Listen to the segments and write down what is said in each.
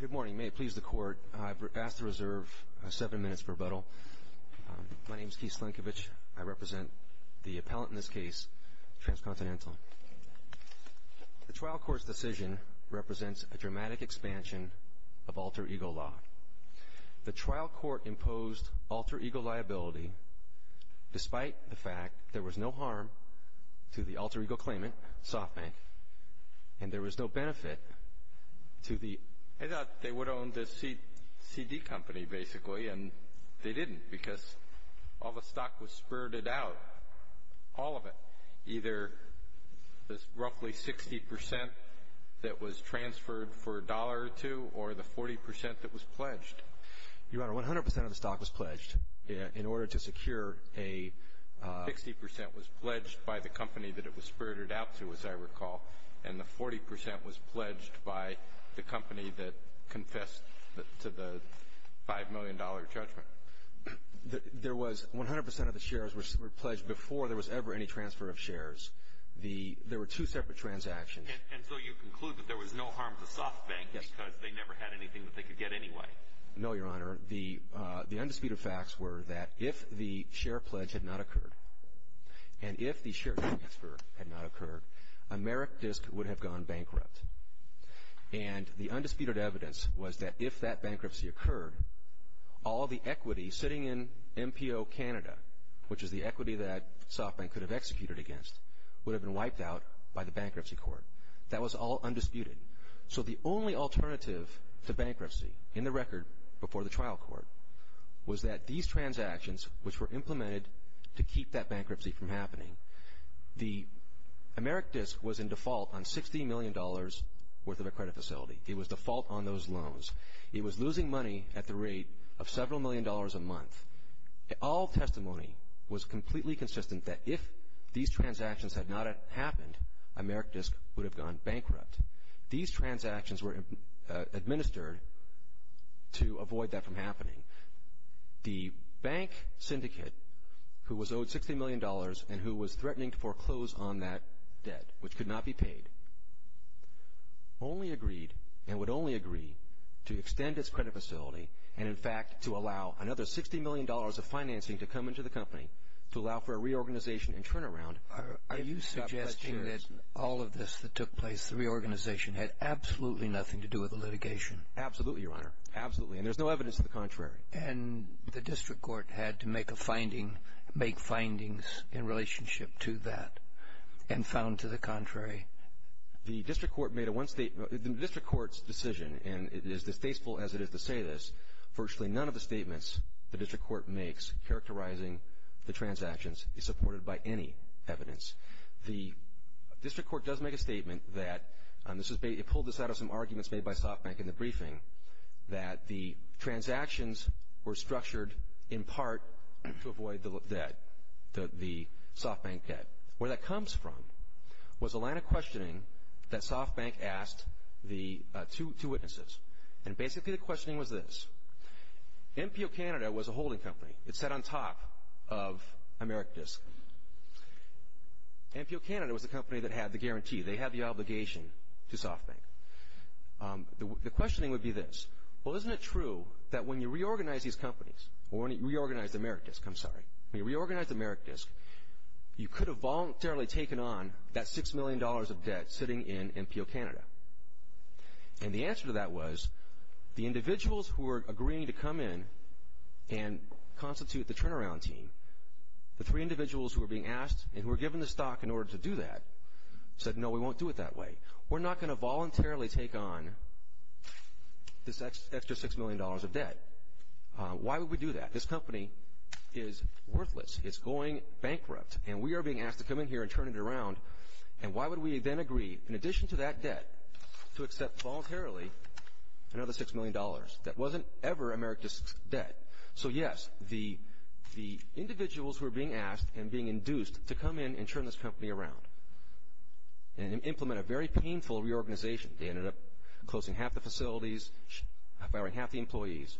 Good morning. May it please the Court, I've asked to reserve seven minutes for rebuttal. My name is Keith Slienkiewicz. I represent the appellant in this case, Transcontinental. The trial court's decision represents a dramatic expansion of alter ego law. The trial court imposed alter ego liability despite the fact there was no harm to the alter ego claimant, and there was no benefit to the... I thought they would own the CD company, basically, and they didn't, because all the stock was spirited out, all of it. Either this roughly 60% that was transferred for a dollar or two, or the 40% that was pledged. Your Honor, 100% of the stock was pledged in order to secure a... 60% was pledged by the company that it was spirited out to, as I recall, and the 40% was pledged by the company that confessed to the $5 million judgment. There was 100% of the shares were pledged before there was ever any transfer of shares. There were two separate transactions. And so you conclude that there was no harm to SOFTBANK because they never had anything that they could get anyway. No, Your Honor. The undisputed facts were that if the share pledge had not occurred, and if the share transfer had not occurred, Amerikdisk would have gone bankrupt. And the undisputed evidence was that if that bankruptcy occurred, all the equity sitting in MPO Canada, which is the equity that SOFTBANK could have executed against, would have been wiped out by the bankruptcy court. That was all undisputed. So the only alternative to bankruptcy in the record before the trial court was that these transactions, which were implemented to keep that bankruptcy from happening, the Amerikdisk was in default on $60 million worth of a credit facility. It was default on those loans. It was losing money at the rate of several million dollars a month. All testimony was completely consistent that if these transactions had not happened, Amerikdisk would have gone bankrupt. These transactions were administered to avoid that from happening. The bank syndicate, who was owed $60 million and who was threatening to foreclose on that debt, which could not be paid, only agreed and would only agree to extend its credit facility and, in fact, to allow another $60 million of financing to come into the company to allow for a reorganization and turnaround. Are you suggesting that all of this that took place, the reorganization, had absolutely nothing to do with the litigation? Absolutely, Your Honor. Absolutely. And there's no evidence to the contrary. And the district court had to make findings in relationship to that and found to the contrary. The district court's decision, and it is distasteful as it is to say this, virtually none of the statements the district court makes characterizing the transactions is supported by any evidence. The district court does make a statement that, it pulled this out of some arguments made by SoftBank in the briefing, that the transactions were structured in part to avoid the debt, the SoftBank debt. Where that comes from was a line of questioning that SoftBank asked the two witnesses. And basically the questioning was this. MPO Canada was a holding company. It sat on top of AmeriDisc. MPO Canada was the company that had the guarantee. They had the obligation to SoftBank. The questioning would be this. Well, isn't it true that when you reorganize these companies or when you reorganize AmeriDisc, I'm sorry, when you reorganize AmeriDisc, you could have voluntarily taken on that $6 million of debt sitting in MPO Canada? And the answer to that was the individuals who were agreeing to come in and constitute the turnaround team, the three individuals who were being asked and who were given the stock in order to do that said, no, we won't do it that way. We're not going to voluntarily take on this extra $6 million of debt. Why would we do that? This company is worthless. It's going bankrupt. And we are being asked to come in here and turn it around. And why would we then agree, in addition to that debt, to accept voluntarily another $6 million that wasn't ever AmeriDisc's debt? So, yes, the individuals who were being asked and being induced to come in and turn this company around and implement a very painful reorganization, they ended up closing half the facilities, firing half the employees,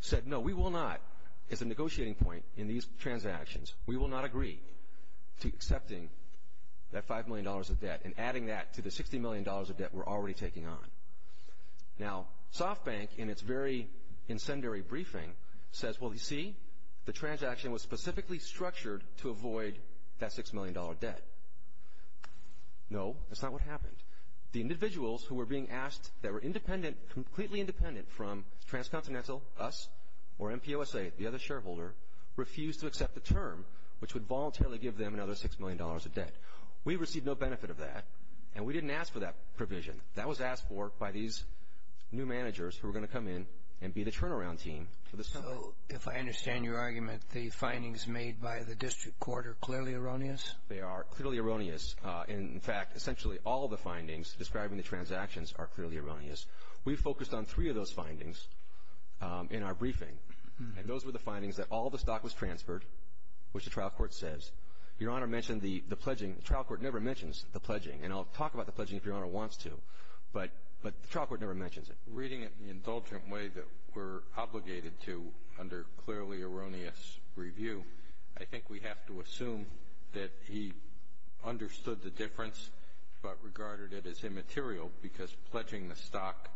said, no, we will not, as a negotiating point in these transactions, we will not agree to accepting that $5 million of debt and adding that to the $60 million of debt we're already taking on. Now, SoftBank, in its very incendiary briefing, says, well, you see, the transaction was specifically structured to avoid that $6 million debt. No, that's not what happened. The individuals who were being asked that were independent, completely independent from Transcontinental, us, or MPOSA, the other shareholder, refused to accept the term which would voluntarily give them another $6 million of debt. We received no benefit of that, and we didn't ask for that provision. That was asked for by these new managers who were going to come in and be the turnaround team for this company. So, if I understand your argument, the findings made by the district court are clearly erroneous? They are clearly erroneous. In fact, essentially all the findings describing the transactions are clearly erroneous. We focused on three of those findings in our briefing, and those were the findings that all the stock was transferred, which the trial court says. Your Honor mentioned the pledging. The trial court never mentions the pledging, and I'll talk about the pledging if Your Honor wants to, but the trial court never mentions it. Reading it in the indulgent way that we're obligated to under clearly erroneous review, I think we have to assume that he understood the difference but regarded it as immaterial because pledging the stock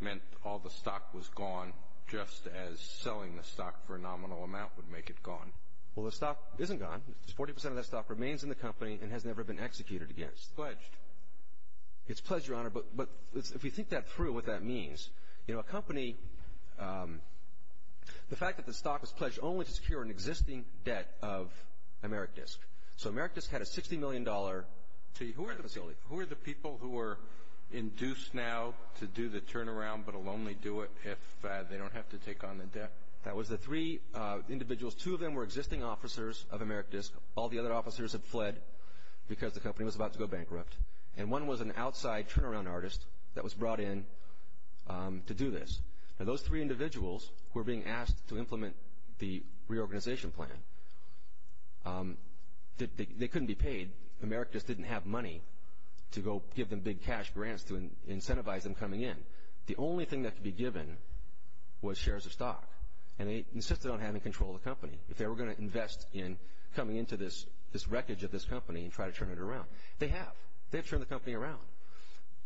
meant all the stock was gone just as selling the stock for a nominal amount would make it gone. Well, the stock isn't gone. Forty percent of that stock remains in the company and has never been executed again. It's pledged. It's pledged, Your Honor, but if you think that through, what that means, you know, a company, the fact that the stock was pledged only to secure an existing debt of AmeriDisc. So, AmeriDisc had a $60 million fee. Who were the people who were induced now to do the turnaround but will only do it if they don't have to take on the debt? That was the three individuals. Those two of them were existing officers of AmeriDisc. All the other officers had fled because the company was about to go bankrupt, and one was an outside turnaround artist that was brought in to do this. Now, those three individuals were being asked to implement the reorganization plan. They couldn't be paid. AmeriDisc didn't have money to go give them big cash grants to incentivize them coming in. The only thing that could be given was shares of stock, and they insisted on having control of the company. If they were going to invest in coming into this wreckage of this company and try to turn it around, they have. They've turned the company around,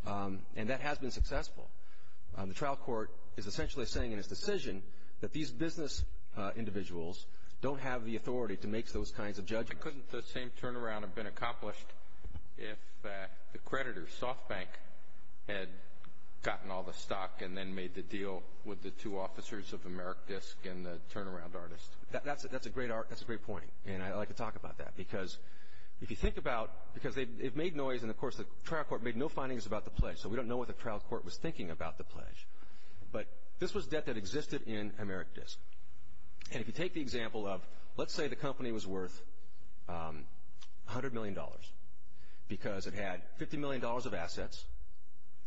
and that has been successful. The trial court is essentially saying in its decision that these business individuals don't have the authority to make those kinds of judgments. Why couldn't the same turnaround have been accomplished if the creditor, SoftBank, had gotten all the stock and then made the deal with the two officers of AmeriDisc and the turnaround artist? That's a great point, and I'd like to talk about that because if you think about it, because it made noise, and, of course, the trial court made no findings about the pledge, so we don't know what the trial court was thinking about the pledge. But this was debt that existed in AmeriDisc. If you take the example of let's say the company was worth $100 million because it had $50 million of assets.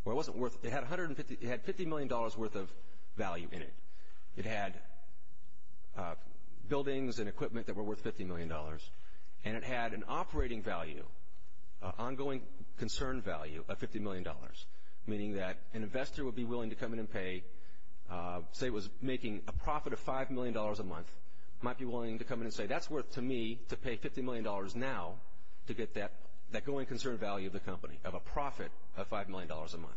It had $50 million worth of value in it. It had buildings and equipment that were worth $50 million, and it had an operating value, an ongoing concern value of $50 million, meaning that an investor would be willing to come in and pay, say it was making a profit of $5 million a month, might be willing to come in and say that's worth to me to pay $50 million now to get that going concern value of the company, of a profit of $5 million a month.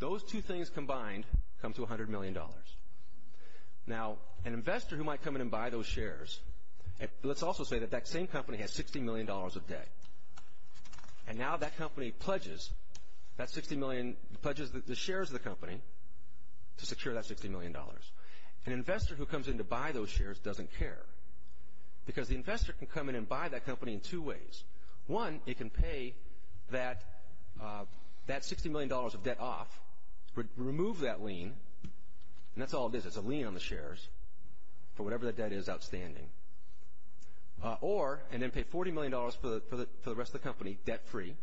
Those two things combined come to $100 million. Now, an investor who might come in and buy those shares, let's also say that that same company has $60 million of debt, and now that company pledges the shares of the company to secure that $60 million. An investor who comes in to buy those shares doesn't care because the investor can come in and buy that company in two ways. One, it can pay that $60 million of debt off, remove that lien, and that's all it is. It's a lien on the shares for whatever that debt is outstanding. Or, and then pay $40 million for the rest of the company debt-free,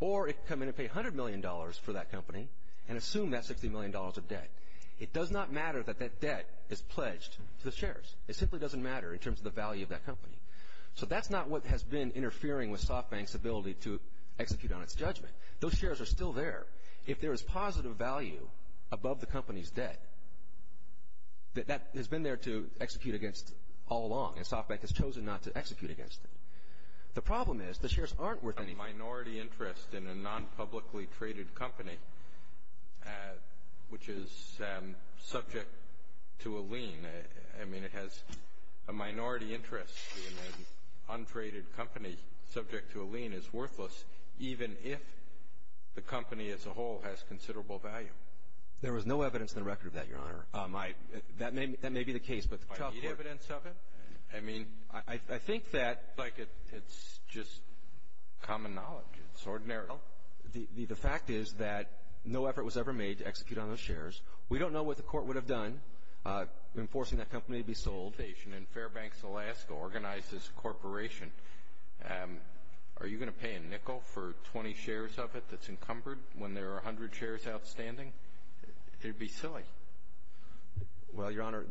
or it can come in and pay $100 million for that company and assume that $60 million of debt. It does not matter that that debt is pledged to the shares. It simply doesn't matter in terms of the value of that company. So that's not what has been interfering with SoftBank's ability to execute on its judgment. Those shares are still there. If there is positive value above the company's debt, that has been there to execute against all along, and SoftBank has chosen not to execute against it. The problem is the shares aren't worth anything. A minority interest in a non-publicly traded company, which is subject to a lien, I mean, it has a minority interest in an untraded company subject to a lien is worthless, even if the company as a whole has considerable value. There was no evidence in the record of that, Your Honor. That may be the case, but the trial court — Do you need evidence of it? I mean, I think that — It's like it's just common knowledge. It's ordinary. The fact is that no effort was ever made to execute on those shares. We don't know what the court would have done in forcing that company to be sold. Fairbanks, Alaska, organized this corporation. Are you going to pay a nickel for 20 shares of it that's encumbered when there are 100 shares outstanding? It would be silly. Well, Your Honor,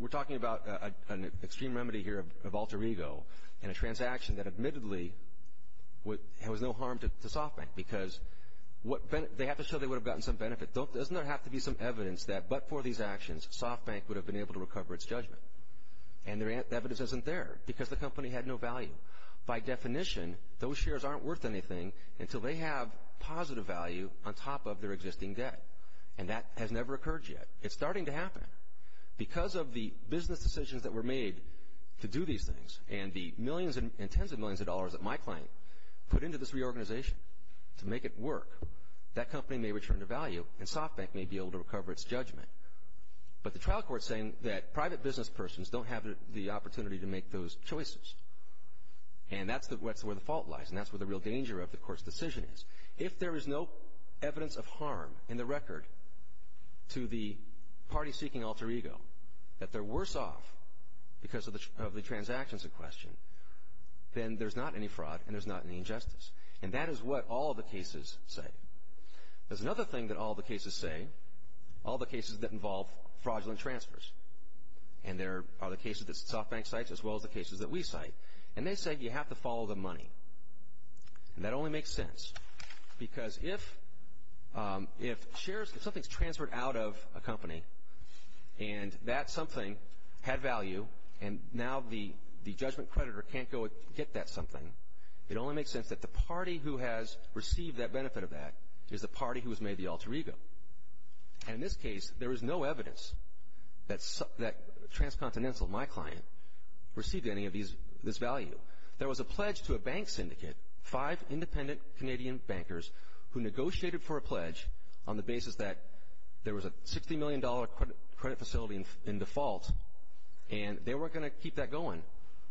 we're talking about an extreme remedy here of alter ego in a transaction that admittedly was no harm to SoftBank because they have to show they would have gotten some benefit. Doesn't there have to be some evidence that but for these actions, SoftBank would have been able to recover its judgment? And the evidence isn't there because the company had no value. By definition, those shares aren't worth anything until they have positive value on top of their existing debt. And that has never occurred yet. It's starting to happen. Because of the business decisions that were made to do these things and the millions and tens of millions of dollars that my client put into this reorganization to make it work, that company may return to value and SoftBank may be able to recover its judgment. But the trial court is saying that private business persons don't have the opportunity to make those choices. And that's where the fault lies, and that's where the real danger of the court's decision is. If there is no evidence of harm in the record to the party-seeking alter ego, that they're worse off because of the transactions in question, then there's not any fraud and there's not any injustice. And that is what all the cases say. There's another thing that all the cases say, all the cases that involve fraudulent transfers. And there are the cases that SoftBank cites as well as the cases that we cite. And they say you have to follow the money. And that only makes sense because if shares, if something's transferred out of a company and that something had value and now the judgment creditor can't go get that something, it only makes sense that the party who has received that benefit of that is the party who has made the alter ego. And in this case, there is no evidence that Transcontinental, my client, received any of this value. There was a pledge to a bank syndicate, five independent Canadian bankers, who negotiated for a pledge on the basis that there was a $60 million credit facility in default, and they weren't going to keep that going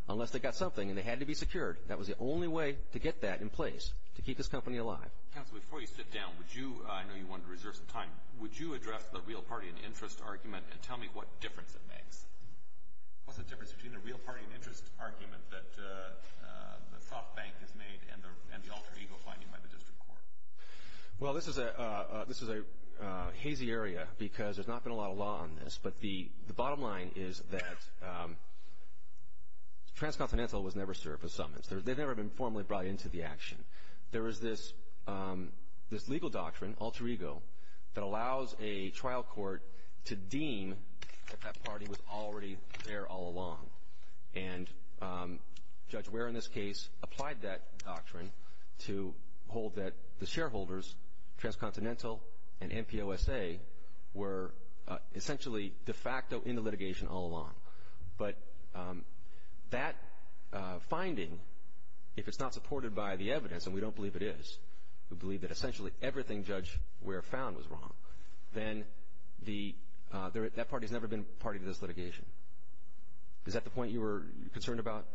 unless they got something and they had to be secured. That was the only way to get that in place, to keep this company alive. Counsel, before you sit down, I know you wanted to reserve some time. Would you address the real party and interest argument and tell me what difference it makes? What's the difference between the real party and interest argument that SoftBank has made and the alter ego finding by the district court? Well, this is a hazy area because there's not been a lot of law on this. But the bottom line is that Transcontinental was never served a summons. They've never been formally brought into the action. There is this legal doctrine, alter ego, that allows a trial court to deem that that party was already there all along. And Judge Ware, in this case, applied that doctrine to hold that the shareholders, Transcontinental and NPOSA, were essentially de facto in the litigation all along. But that finding, if it's not supported by the evidence, and we don't believe it is, we believe that essentially everything Judge Ware found was wrong, then that party has never been party to this litigation. Is that the point you were concerned about?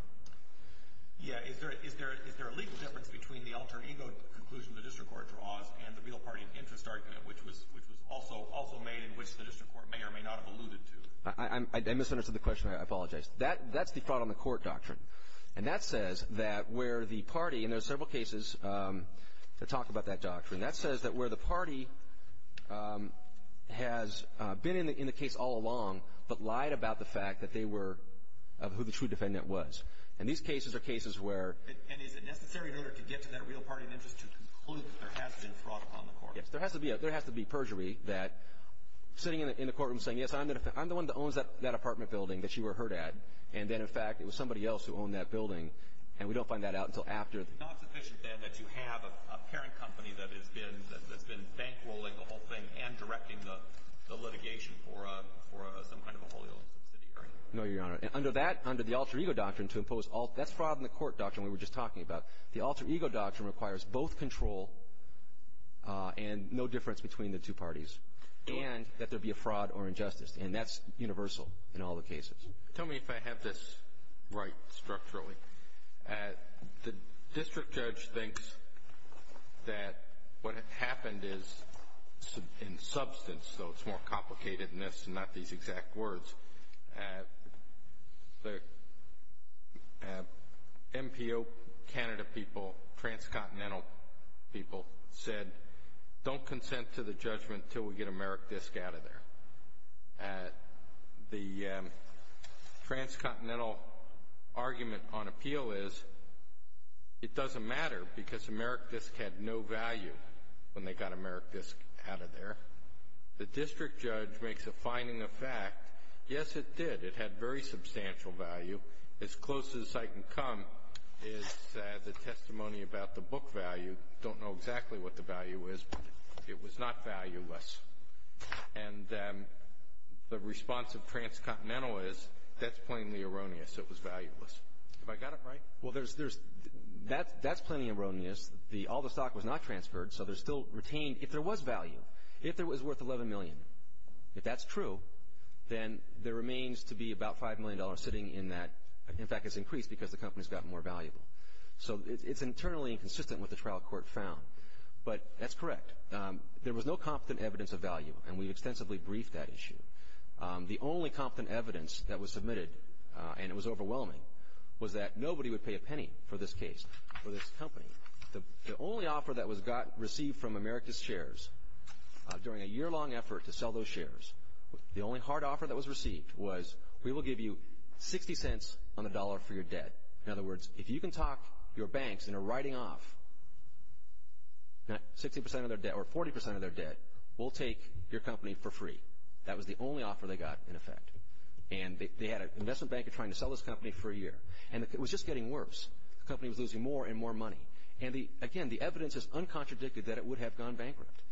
Yeah. Is there a legal difference between the alter ego conclusion the district court draws and the real party and interest argument, which was also made in which the district court may or may not have alluded to? I misunderstood the question. I apologize. That's the fraud on the court doctrine. And that says that where the party, and there are several cases that talk about that doctrine, that says that where the party has been in the case all along but lied about the fact that they were who the true defendant was. And these cases are cases where... And is it necessary in order to get to that real party and interest to conclude that there has been fraud on the court? Yes, there has to be perjury that sitting in the courtroom saying, yes, I'm the one that owns that apartment building that you were hurt at, and then, in fact, it was somebody else who owned that building, and we don't find that out until after... It's not sufficient, then, that you have a parent company that has been bankrolling the whole thing and directing the litigation for some kind of a wholly owned subsidiary. No, Your Honor. Under that, under the alter ego doctrine, to impose all... That's fraud on the court doctrine we were just talking about. The alter ego doctrine requires both control and no difference between the two parties. And that there be a fraud or injustice. And that's universal in all the cases. Tell me if I have this right structurally. The district judge thinks that what happened is in substance, though it's more complicated than this and not these exact words. The MPO Canada people, transcontinental people, said, don't consent to the judgment until we get a merit disc out of there. The transcontinental argument on appeal is it doesn't matter, because a merit disc had no value when they got a merit disc out of there. The district judge makes a finding of fact, yes, it did. It had very substantial value. As close as I can come is the testimony about the book value. I don't know exactly what the value is, but it was not valueless. And the response of transcontinental is that's plainly erroneous. It was valueless. Have I got it right? Well, that's plainly erroneous. All the stock was not transferred, so there's still retained. If there was value, if it was worth $11 million, if that's true, then there remains to be about $5 million sitting in that. In fact, it's increased because the company's gotten more valuable. So it's internally inconsistent with the trial court found. But that's correct. There was no competent evidence of value, and we extensively briefed that issue. The only competent evidence that was submitted, and it was overwhelming, was that nobody would pay a penny for this case, for this company. The only offer that was received from America's shares during a yearlong effort to sell those shares, the only hard offer that was received was we will give you 60 cents on the dollar for your debt. In other words, if you can talk your banks into writing off 60% of their debt or 40% of their debt, we'll take your company for free. That was the only offer they got in effect. And they had an investment banker trying to sell this company for a year. And it was just getting worse. The company was losing more and more money. And, again, the evidence is uncontradicted that it would have gone bankrupt.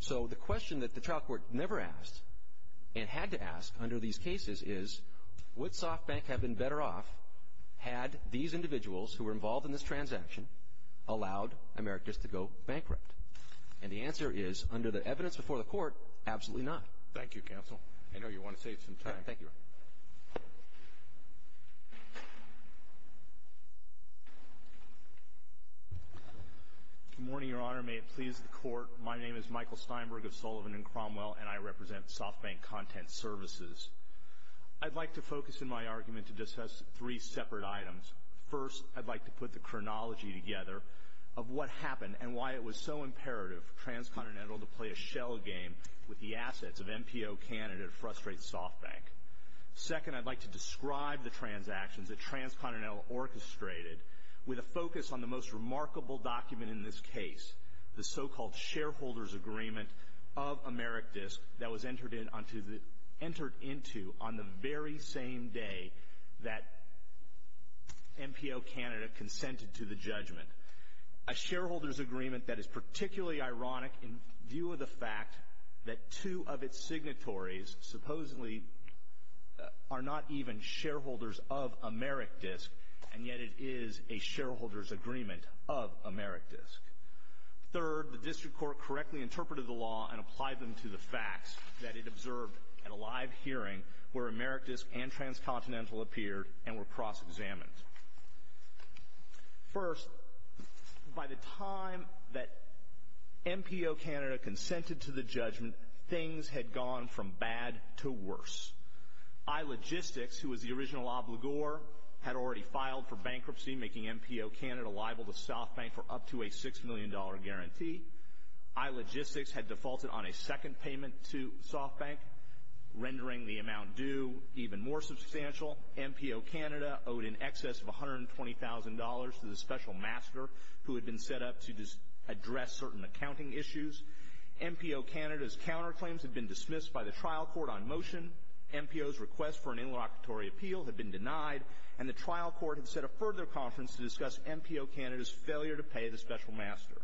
So the question that the trial court never asked and had to ask under these cases is, would SoftBank have been better off had these individuals who were involved in this transaction allowed Americas to go bankrupt? And the answer is, under the evidence before the court, absolutely not. Thank you, counsel. I know you want to save some time. Thank you. Good morning, Your Honor. May it please the Court. My name is Michael Steinberg of Sullivan and Cromwell, and I represent SoftBank Content Services. I'd like to focus in my argument to discuss three separate items. First, I'd like to put the chronology together of what happened and why it was so imperative for Transcontinental to play a shell game with the assets of MPO candidate Frustrate SoftBank. Second, I'd like to describe the transactions that Transcontinental orchestrated with a focus on the most remarkable document in this case, the so-called Shareholders Agreement of Amerikdisk that was entered into on the very same day that MPO Canada consented to the judgment, a shareholders agreement that is particularly ironic in view of the fact that two of its signatories supposedly are not even shareholders of Amerikdisk, and yet it is a shareholders agreement of Amerikdisk. Third, the District Court correctly interpreted the law and applied them to the facts that it observed at a live hearing where Amerikdisk and Transcontinental appeared and were cross-examined. First, by the time that MPO Canada consented to the judgment, things had gone from bad to worse. iLogistics, who was the original obligor, had already filed for bankruptcy, making MPO Canada liable to SoftBank for up to a $6 million guarantee. iLogistics had defaulted on a second payment to SoftBank, rendering the amount due even more substantial. MPO Canada owed in excess of $120,000 to the special master who had been set up to address certain accounting issues. MPO Canada's counterclaims had been dismissed by the trial court on motion, MPO's request for an interlocutory appeal had been denied, and the trial court had set up further conference to discuss MPO Canada's failure to pay the special master.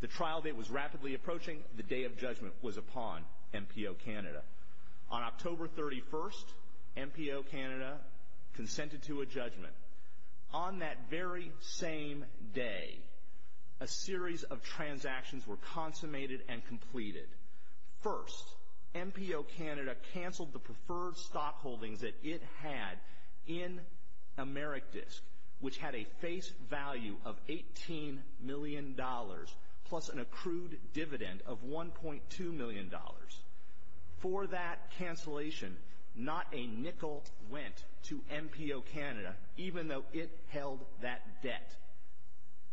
The trial date was rapidly approaching. The day of judgment was upon MPO Canada. On October 31st, MPO Canada consented to a judgment. On that very same day, a series of transactions were consummated and completed. First, MPO Canada canceled the preferred stock holdings that it had in AmeriDisk, which had a face value of $18 million plus an accrued dividend of $1.2 million. For that cancellation, not a nickel went to MPO Canada, even though it held that debt.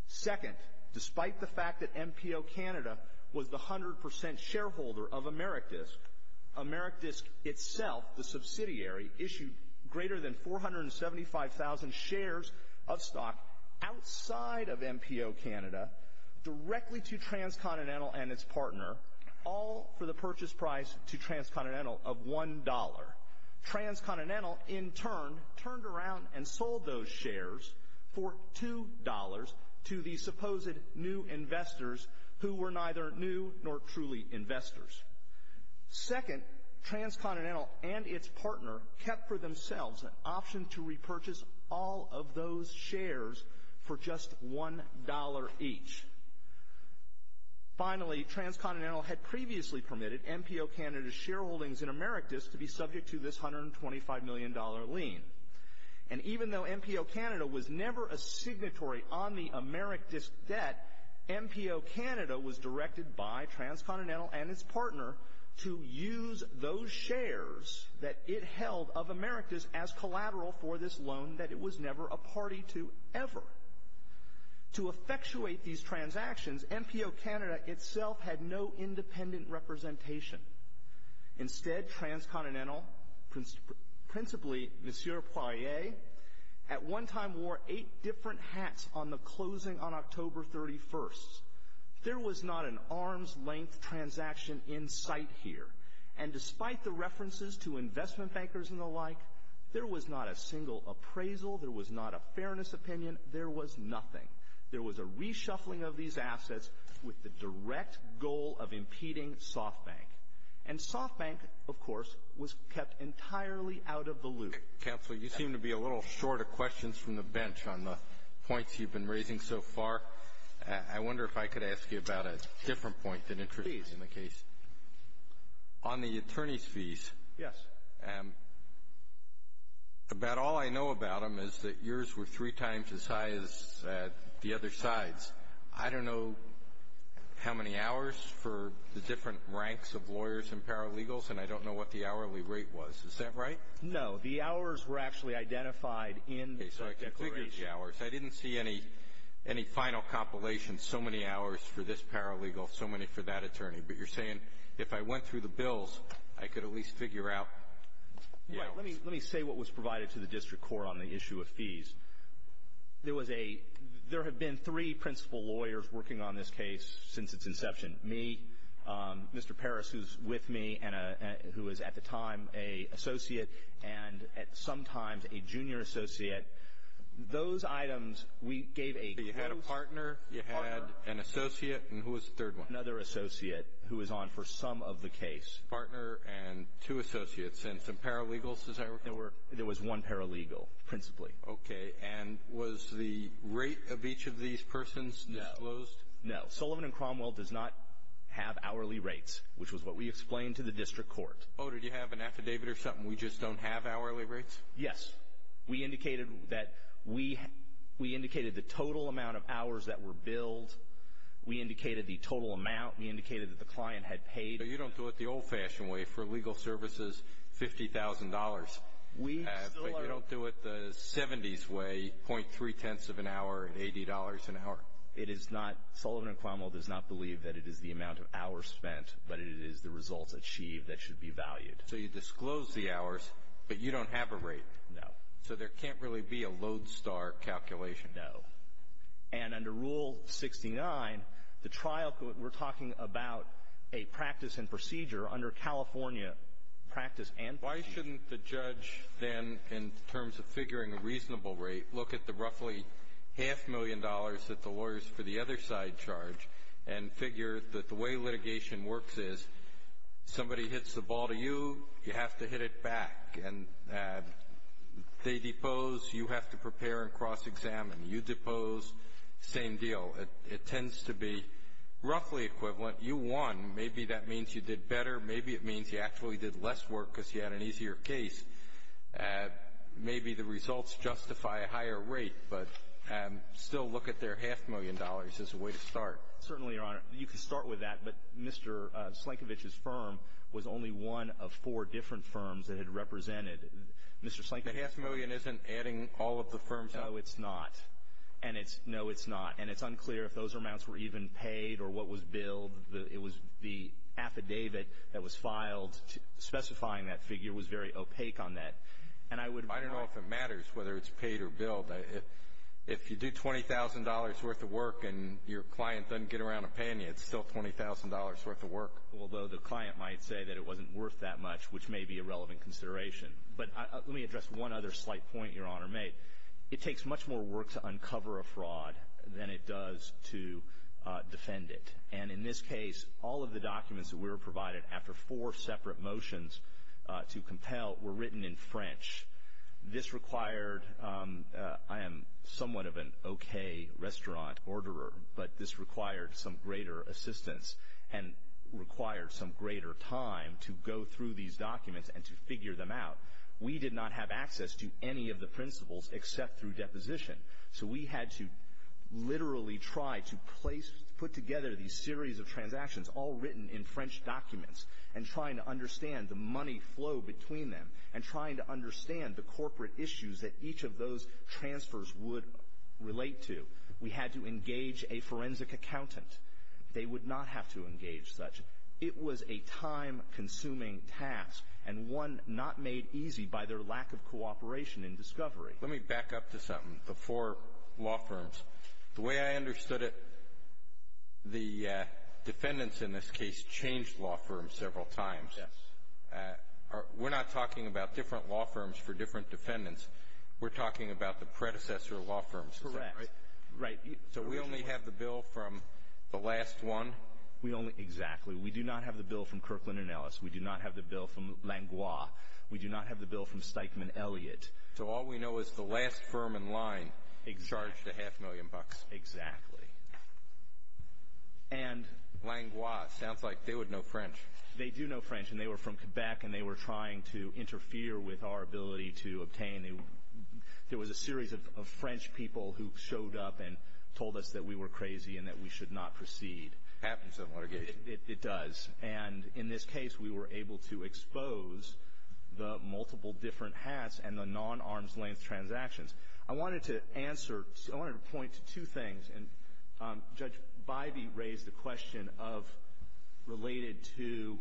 Second, despite the fact that MPO Canada was the 100% shareholder of AmeriDisk, AmeriDisk itself, the subsidiary, issued greater than 475,000 shares of stock outside of MPO Canada directly to Transcontinental and its partner, all for the purchase price to Transcontinental of $1. Transcontinental, in turn, turned around and sold those shares for $2 to the supposed new investors, who were neither new nor truly investors. Second, Transcontinental and its partner kept for themselves an option to repurchase all of those shares for just $1 each. Finally, Transcontinental had previously permitted MPO Canada's shareholdings in AmeriDisk to be subject to this $125 million lien. And even though MPO Canada was never a signatory on the AmeriDisk debt, MPO Canada was directed by Transcontinental and its partner to use those shares that it held of AmeriDisk as collateral for this loan that it was never a party to, ever. To effectuate these transactions, MPO Canada itself had no independent representation. Instead, Transcontinental, principally Monsieur Poirier, at one time wore eight different hats on the closing on October 31st. There was not an arms-length transaction in sight here. And despite the references to investment bankers and the like, there was not a single appraisal. There was not a fairness opinion. There was nothing. There was a reshuffling of these assets with the direct goal of impeding SoftBank. And SoftBank, of course, was kept entirely out of the loop. Counsel, you seem to be a little short of questions from the bench on the points you've been raising so far. I wonder if I could ask you about a different point that interests me in the case. Please. On the attorneys' fees. Yes. About all I know about them is that yours were three times as high as the other side's. I don't know how many hours for the different ranks of lawyers and paralegals, and I don't know what the hourly rate was. Is that right? No. The hours were actually identified in the declaration. Okay. So I can figure the hours. I didn't see any final compilation, so many hours for this paralegal, so many for that attorney. But you're saying if I went through the bills, I could at least figure out the hours. Let me say what was provided to the district court on the issue of fees. There was a — there have been three principal lawyers working on this case since its inception. Me, Mr. Parris, who's with me, and who was at the time an associate, and at some time a junior associate. Those items, we gave a close partner. You had a partner. You had an associate. And who was the third one? We had another associate who was on for some of the case. Partner and two associates and some paralegals, as I recall. There was one paralegal, principally. Okay. And was the rate of each of these persons disclosed? No. No. Sullivan and Cromwell does not have hourly rates, which was what we explained to the district court. Oh, did you have an affidavit or something? We just don't have hourly rates? Yes. We indicated that we — we indicated the total amount of hours that were billed. We indicated the total amount. We indicated that the client had paid. But you don't do it the old-fashioned way for legal services, $50,000. We still are — But you don't do it the 70s way, .3 tenths of an hour at $80 an hour. It is not — Sullivan and Cromwell does not believe that it is the amount of hours spent, but it is the results achieved that should be valued. So you disclose the hours, but you don't have a rate. No. So there can't really be a lodestar calculation. No. And under Rule 69, the trial could — we're talking about a practice and procedure under California practice and procedure. Why shouldn't the judge then, in terms of figuring a reasonable rate, look at the roughly half-million dollars that the lawyers for the other side charge and figure that the way litigation works is somebody hits the ball to you, you have to hit it back. And they depose, you have to prepare and cross-examine. You depose, same deal. It tends to be roughly equivalent. You won. Maybe that means you did better. Maybe it means you actually did less work because you had an easier case. Maybe the results justify a higher rate. But still look at their half-million dollars as a way to start. Certainly, Your Honor. You can start with that. But Mr. Slankovich's firm was only one of four different firms that it represented. Mr. Slankovich — The half-million isn't adding all of the firms up. No, it's not. And it's — no, it's not. And it's unclear if those amounts were even paid or what was billed. It was the affidavit that was filed specifying that figure was very opaque on that. And I would — I don't know if it matters whether it's paid or billed. If you do $20,000 worth of work and your client doesn't get around to paying you, it's still $20,000 worth of work. Although the client might say that it wasn't worth that much, which may be a relevant consideration. But let me address one other slight point Your Honor made. It takes much more work to uncover a fraud than it does to defend it. And in this case, all of the documents that we were provided after four separate motions to compel were written in French. This required — I am somewhat of an okay restaurant orderer, but this required some greater assistance and required some greater time to go through these documents and to figure them out. We did not have access to any of the principles except through deposition. So we had to literally try to put together these series of transactions all written in French documents and trying to understand the money flow between them and trying to understand the corporate issues that each of those transfers would relate to. We had to engage a forensic accountant. They would not have to engage such. It was a time-consuming task and one not made easy by their lack of cooperation in discovery. Let me back up to something. Before law firms, the way I understood it, the defendants in this case changed law firms several times. Yes. We're not talking about different law firms for different defendants. We're talking about the predecessor law firms. Correct. Right. So we only have the bill from the last one? Exactly. We do not have the bill from Kirkland & Ellis. We do not have the bill from Langlois. We do not have the bill from Steichman Elliott. So all we know is the last firm in line charged a half million bucks. Exactly. Langlois. Sounds like they would know French. They do know French and they were from Quebec and they were trying to interfere with our ability to obtain. There was a series of French people who showed up and told us that we were crazy and that we should not proceed. Happens in litigation. It does. And in this case, we were able to expose the multiple different hats and the non-arm's length transactions. I wanted to answer, I wanted to point to two things. And Judge Bybee raised the question of, related to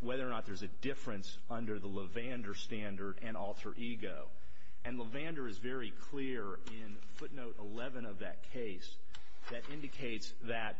whether or not there's a difference under the Levander standard and alter ego. And Levander is very clear in footnote 11 of that case that indicates that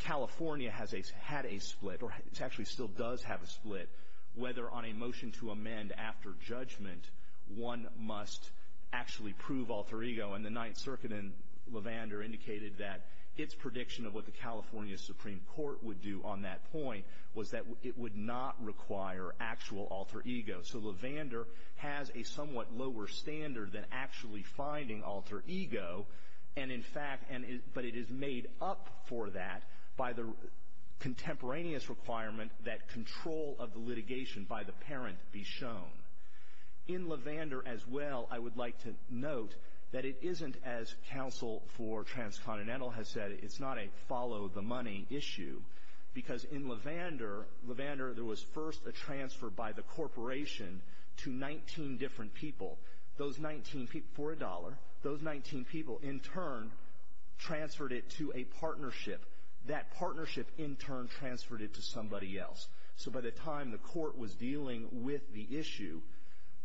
California has had a split, or actually still does have a split, whether on a motion to amend after judgment, one must actually prove alter ego. And the Ninth Circuit in Levander indicated that its prediction of what the California Supreme Court would do on that point was that it would not require actual alter ego. So, Levander has a somewhat lower standard than actually finding alter ego. And in fact, but it is made up for that by the contemporaneous requirement that control of the litigation by the parent be shown. In Levander as well, I would like to note that it isn't as counsel for Transcontinental has said, it's not a follow the money issue. Because in Levander, Levander there was first a transfer by the corporation to 19 different people. Those 19 people, for a dollar, those 19 people in turn transferred it to a partnership. That partnership in turn transferred it to somebody else. So by the time the court was dealing with the issue,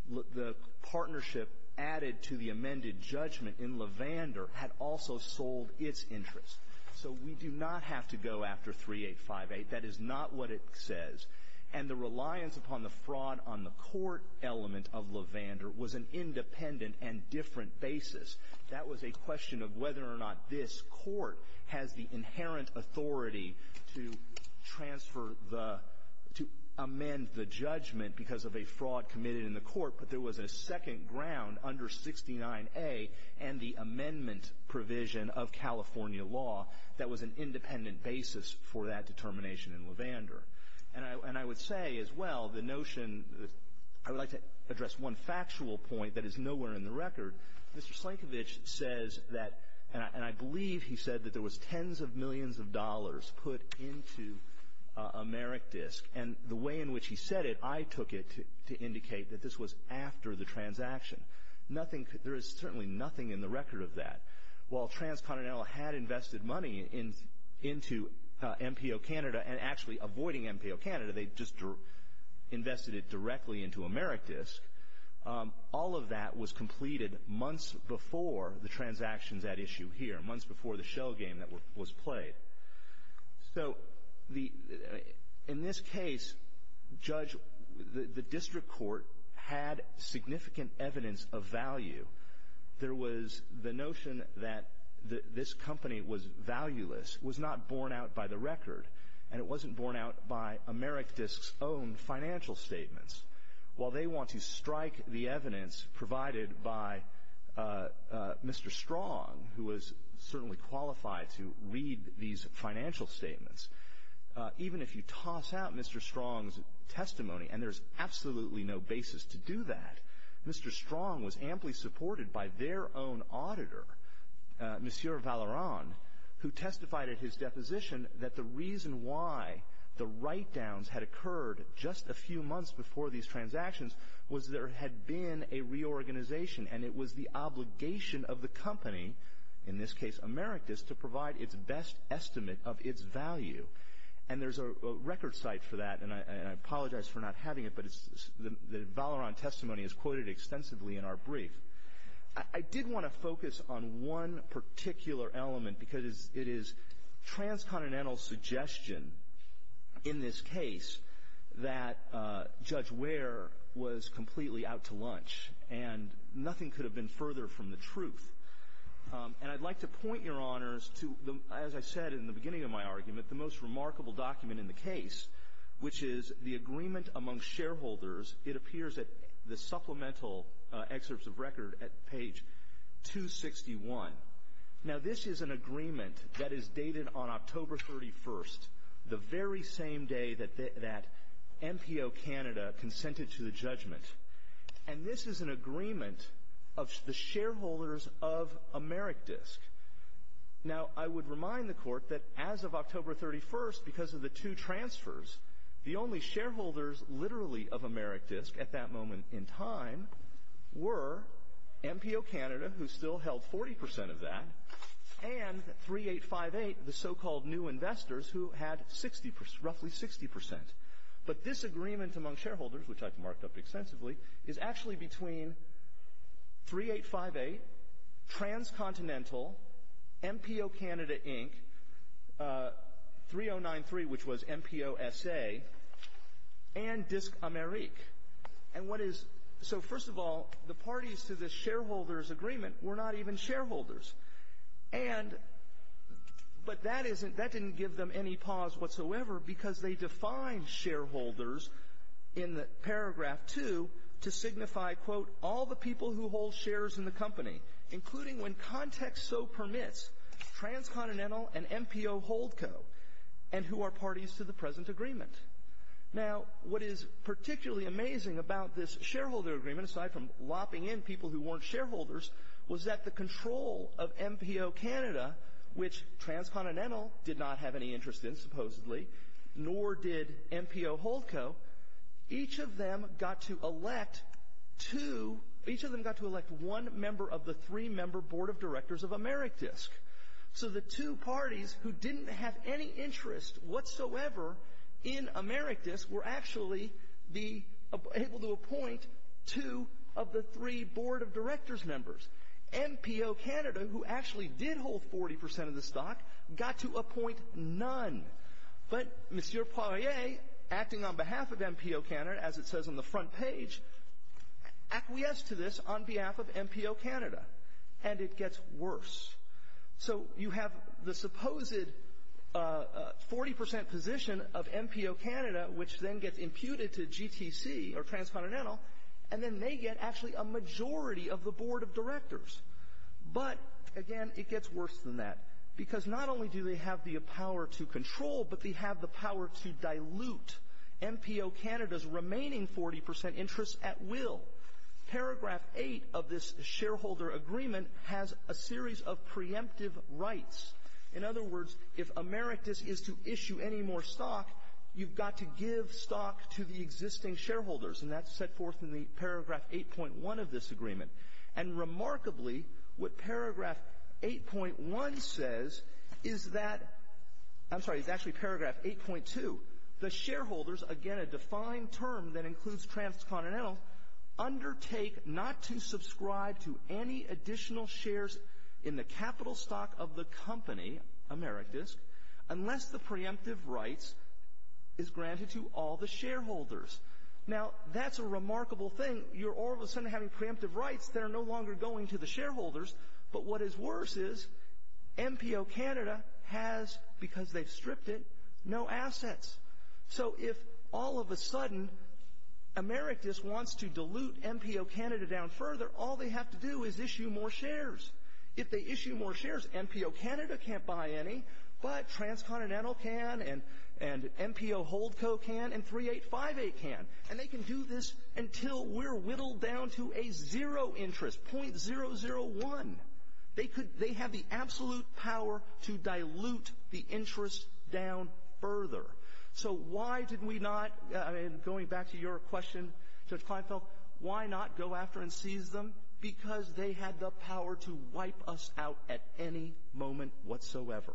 the partnership added to the amended judgment in Levander had also sold its interest. So we do not have to go after 3858. That is not what it says. And the reliance upon the fraud on the court element of Levander was an independent and different basis. That was a question of whether or not this court has the inherent authority to transfer the, to amend the judgment because of a fraud committed in the court. But there was a second ground under 69A and the amendment provision of California law that was an independent basis for that determination in Levander. And I would say as well, the notion, I would like to address one factual point that is nowhere in the record. Mr. Slankovich says that, and I believe he said that there was tens of millions of dollars put into AmeriDisc. And the way in which he said it, I took it to indicate that this was after the transaction. Nothing, there is certainly nothing in the record of that. While Transcontinental had invested money into MPO Canada and actually avoiding MPO Canada, they just invested it directly into AmeriDisc. All of that was completed months before the transactions at issue here, months before the shell game that was played. So in this case, Judge, the district court had significant evidence of value. There was the notion that this company was valueless, was not borne out by the record, and it wasn't borne out by AmeriDisc's own financial statements. While they want to strike the evidence provided by Mr. Strong, who was certainly unqualified to read these financial statements, even if you toss out Mr. Strong's testimony, and there's absolutely no basis to do that, Mr. Strong was amply supported by their own auditor, Monsieur Valeron, who testified at his deposition that the reason why the write-downs had occurred just a few months before these transactions was there had been a reorganization and it was the obligation of the company, in this case AmeriDisc, to provide its best estimate of its value. And there's a record site for that, and I apologize for not having it, but the Valeron testimony is quoted extensively in our brief. I did want to focus on one particular element because it is Transcontinental's suggestion in this case that Judge Ware was completely out to lunch and nothing could have been further from the truth. And I'd like to point, Your Honors, to, as I said in the beginning of my argument, the most remarkable document in the case, which is the agreement among shareholders. It appears at the supplemental excerpts of record at page 261. Now, this is an agreement that is dated on October 31st, the very same day that MPO Canada consented to the judgment. And this is an agreement of the shareholders of AmeriDisc. Now, I would remind the Court that as of October 31st, because of the two transfers, the only shareholders literally of AmeriDisc at that moment in time were MPO Canada, who still held 40% of that, and 3858, the so-called new investors, who had roughly 60%. But this agreement among shareholders, which I've marked up extensively, is actually between 3858, Transcontinental, MPO Canada, Inc., 3093, which was MPO SA, and Disc Amerique. So, first of all, the parties to this shareholders agreement were not even shareholders. But that didn't give them any pause whatsoever, because they defined shareholders in paragraph two to signify, quote, all the people who hold shares in the company, including, when context so permits, Transcontinental and MPO Holdco, and who are parties to the present agreement. Now, what is particularly amazing about this shareholder agreement, aside from lopping in people who weren't shareholders, was that the control of MPO Canada, which Transcontinental did not have any interest in, supposedly, nor did MPO Holdco, each of them got to elect one member of the three-member board of directors of AmeriDisc. So the two parties who didn't have any interest whatsoever in AmeriDisc were actually able to appoint two of the three board of directors members. MPO Canada, who actually did hold 40% of the stock, got to appoint none. But M. Poirier, acting on behalf of MPO Canada, as it says on the front page, acquiesced to this on behalf of MPO Canada. And it gets worse. So you have the supposed 40% position of MPO Canada, which then gets imputed to GTC, or Transcontinental, and then they get, actually, a majority of the board of directors. But, again, it gets worse than that. Because not only do they have the power to control, but they have the power to dilute MPO Canada's remaining 40% interest at will. Paragraph 8 of this shareholder agreement has a series of preemptive rights. In other words, if AmeriDisc is to issue any more stock, you've got to give stock to the existing shareholders. And that's set forth in the paragraph 8.1 of this agreement. And remarkably, what paragraph 8.1 says is that, I'm sorry, it's actually paragraph 8.2. The shareholders, again, a defined term that includes Transcontinental, undertake not to subscribe to any additional shares in the capital stock of the company, AmeriDisc, unless the preemptive rights is granted to all the shareholders. Now, that's a remarkable thing. You're all of a sudden having preemptive rights that are no longer going to the shareholders. But what is worse is, MPO Canada has, because they've stripped it, no assets. So if all of a sudden, AmeriDisc wants to dilute MPO Canada down further, all they have to do is issue more shares. If they issue more shares, MPO Canada can't buy any, but Transcontinental can, and MPO Holdco can, and 3858 can. And they can do this until we're whittled down to a zero interest, .001. They could — they have the absolute power to dilute the interest down further. So why did we not — and going back to your question, Judge Kleinfeld, why not go after and seize them? Because they had the power to wipe us out at any moment whatsoever.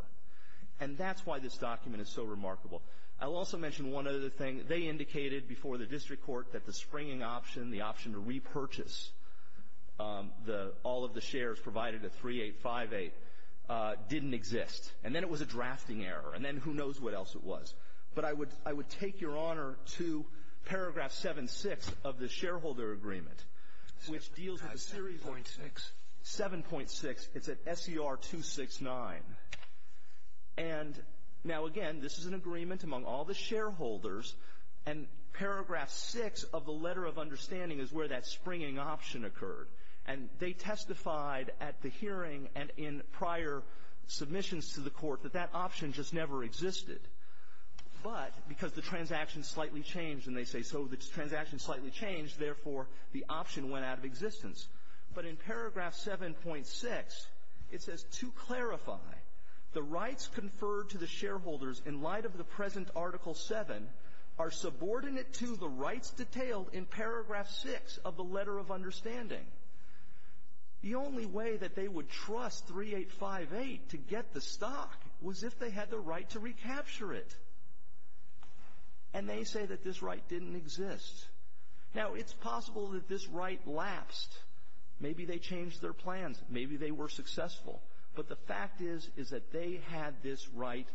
And that's why this document is so remarkable. I'll also mention one other thing. They indicated before the district court that the springing option, the option to repurchase all of the shares provided at 3858, didn't exist. And then it was a drafting error. And then who knows what else it was. But I would take your honor to paragraph 7-6 of the shareholder agreement, which deals with the — 7.6. 7.6. It's at SER 269. And now, again, this is an agreement among all the shareholders. And paragraph 6 of the letter of understanding is where that springing option occurred. And they testified at the hearing and in prior submissions to the court that that option just never existed. But because the transaction slightly changed, and they say, so the transaction slightly changed, therefore the option went out of existence. But in paragraph 7.6, it says, to clarify, the rights conferred to the shareholders in light of the present article 7 are subordinate to the rights detailed in paragraph 6 of the letter of understanding. The only way that they would trust 3858 to get the stock was if they had the right to recapture it. And they say that this right didn't exist. Now, it's possible that this right lapsed. Maybe they changed their plans. Maybe they were successful. But the fact is, is that they had this right,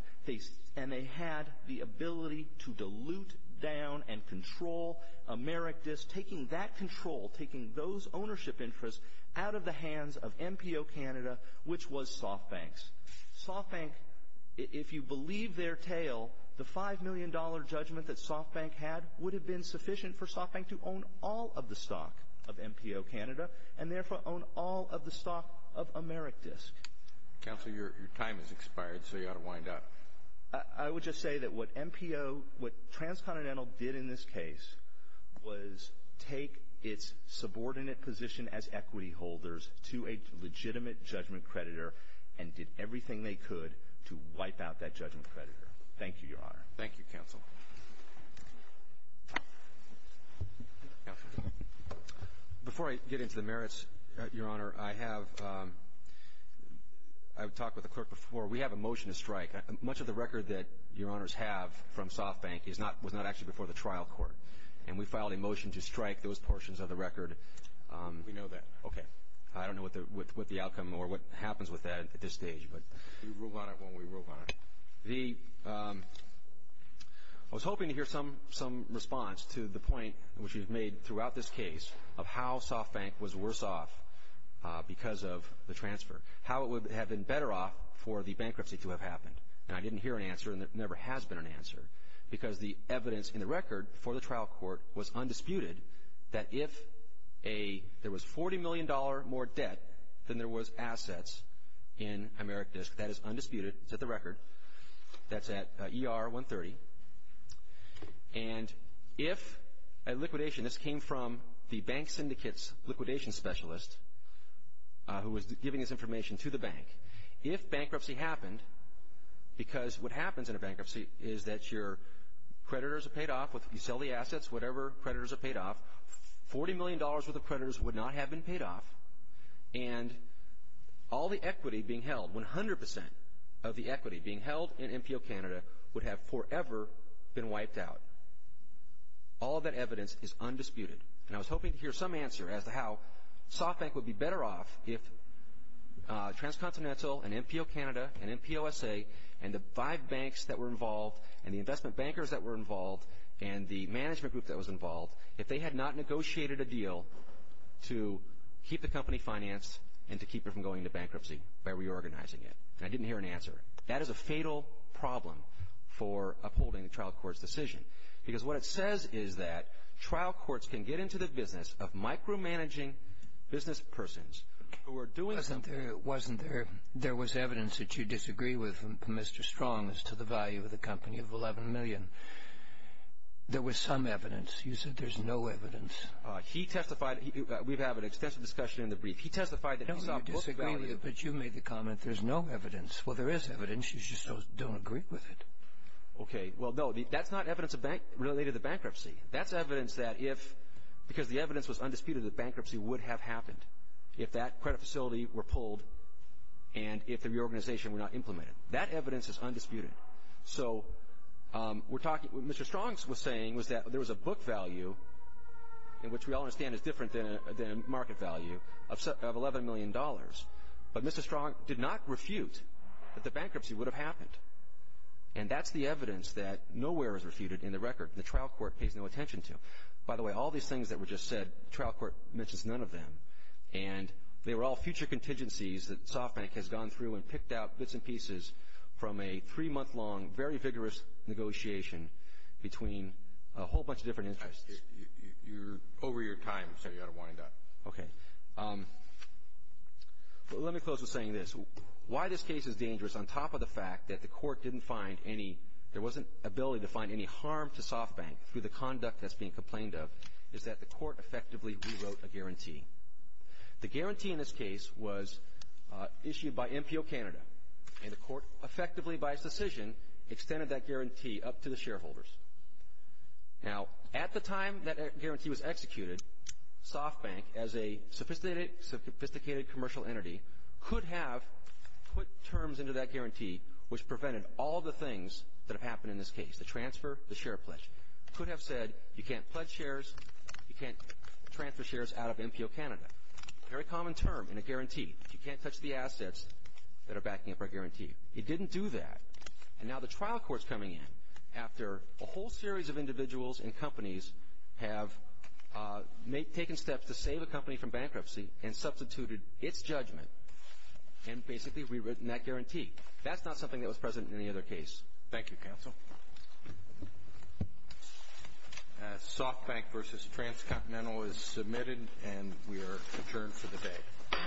and they had the ability to dilute down and control Amerikdis, taking that control, taking those ownership interests out of the hands of MPO Canada, which was SoftBank's. SoftBank, if you believe their tale, the $5 million judgment that SoftBank had would have been sufficient for SoftBank to own all of the stock of MPO Canada, and therefore own all of the stock of Amerikdis. Counsel, your time has expired, so you ought to wind up. I would just say that what MPO, what Transcontinental did in this case was take its subordinate position as equity holders to a legitimate judgment creditor and did everything they could to wipe out that judgment creditor. Thank you, Your Honor. Thank you, Counsel. Counsel, before I get into the merits, Your Honor, I have, I've talked with the clerk before. We have a motion to strike. Much of the record that Your Honors have from SoftBank is not, was not actually before the trial court. And we filed a motion to strike those portions of the record. We know that. Okay. I don't know what the outcome or what happens with that at this stage. You rule on it when we rule on it. The, I was hoping to hear some, some response to the point which you've made throughout this case of how SoftBank was worse off because of the transfer, how it would have been better off for the bankruptcy to have happened. And I didn't hear an answer, and there never has been an answer, because the evidence in the record before the trial court was undisputed that if a, there was $40 million more debt than there was assets in Amerikdis. That is undisputed. It's at the record. That's at ER 130. And if a liquidationist came from the bank syndicate's liquidation specialist who was giving this information to the bank, if bankruptcy happened, because what happens in a bankruptcy is that your creditors are paid off, you sell the assets, whatever creditors are paid off, $40 million worth of creditors would not have been paid off, and all the equity being held, 100% of the equity being held in NPO Canada would have forever been wiped out. All of that evidence is undisputed. And I was hoping to hear some answer as to how SoftBank would be better off if Transcontinental and NPO Canada and NPOSA and the five banks that were involved and the investment bankers that were involved and the management group that was involved, if they had not negotiated a deal to keep the company financed and to keep it from going into bankruptcy by reorganizing it. And I didn't hear an answer. That is a fatal problem for upholding the trial court's decision. Because what it says is that trial courts can get into the business of micromanaging business persons who are doing something. Wasn't there evidence that you disagree with Mr. Strong as to the value of the company of $11 million? There was some evidence. You said there's no evidence. He testified. We've had an extensive discussion in the brief. He testified that he saw book value. No, you disagree, but you made the comment there's no evidence. Well, there is evidence. You just don't agree with it. Okay. Well, no, that's not evidence related to bankruptcy. That's evidence that if, because the evidence was undisputed that bankruptcy would have happened if that credit facility were pulled and if the reorganization were not implemented. That evidence is undisputed. So we're talking, what Mr. Strong was saying was that there was a book value in which we all understand is different than a market value of $11 million. But Mr. Strong did not refute that the bankruptcy would have happened. And that's the evidence that nowhere is refuted in the record. The trial court pays no attention to. By the way, all these things that were just said, the trial court mentions none of them. And they were all future contingencies that SoftBank has gone through and picked out bits and pieces from a three-month long, very vigorous negotiation between a whole bunch of different interests. You're over your time, so you ought to wind up. Okay. Well, let me close with saying this. Why this case is dangerous, on top of the fact that the court didn't find any, there wasn't ability to find any harm to SoftBank through the conduct that's being complained of, is that the court effectively rewrote a guarantee. The guarantee in this case was issued by MPO Canada, and the court effectively, by its decision, extended that guarantee up to the shareholders. Now, at the time that guarantee was executed, SoftBank, as a sophisticated commercial entity, could have put terms into that guarantee, which prevented all the things that have happened in this case, the transfer, the share pledge. Could have said, you can't pledge shares, you can't transfer shares out of MPO Canada. Very common term in a guarantee. You can't touch the assets that are backing up our guarantee. It didn't do that, and now the trial court's coming in after a whole series of individuals and companies have taken steps to save a company from bankruptcy and substituted its judgment and basically rewritten that guarantee. That's not something that was present in any other case. Thank you, counsel. SoftBank v. Transcontinental is submitted, and we are adjourned for the day.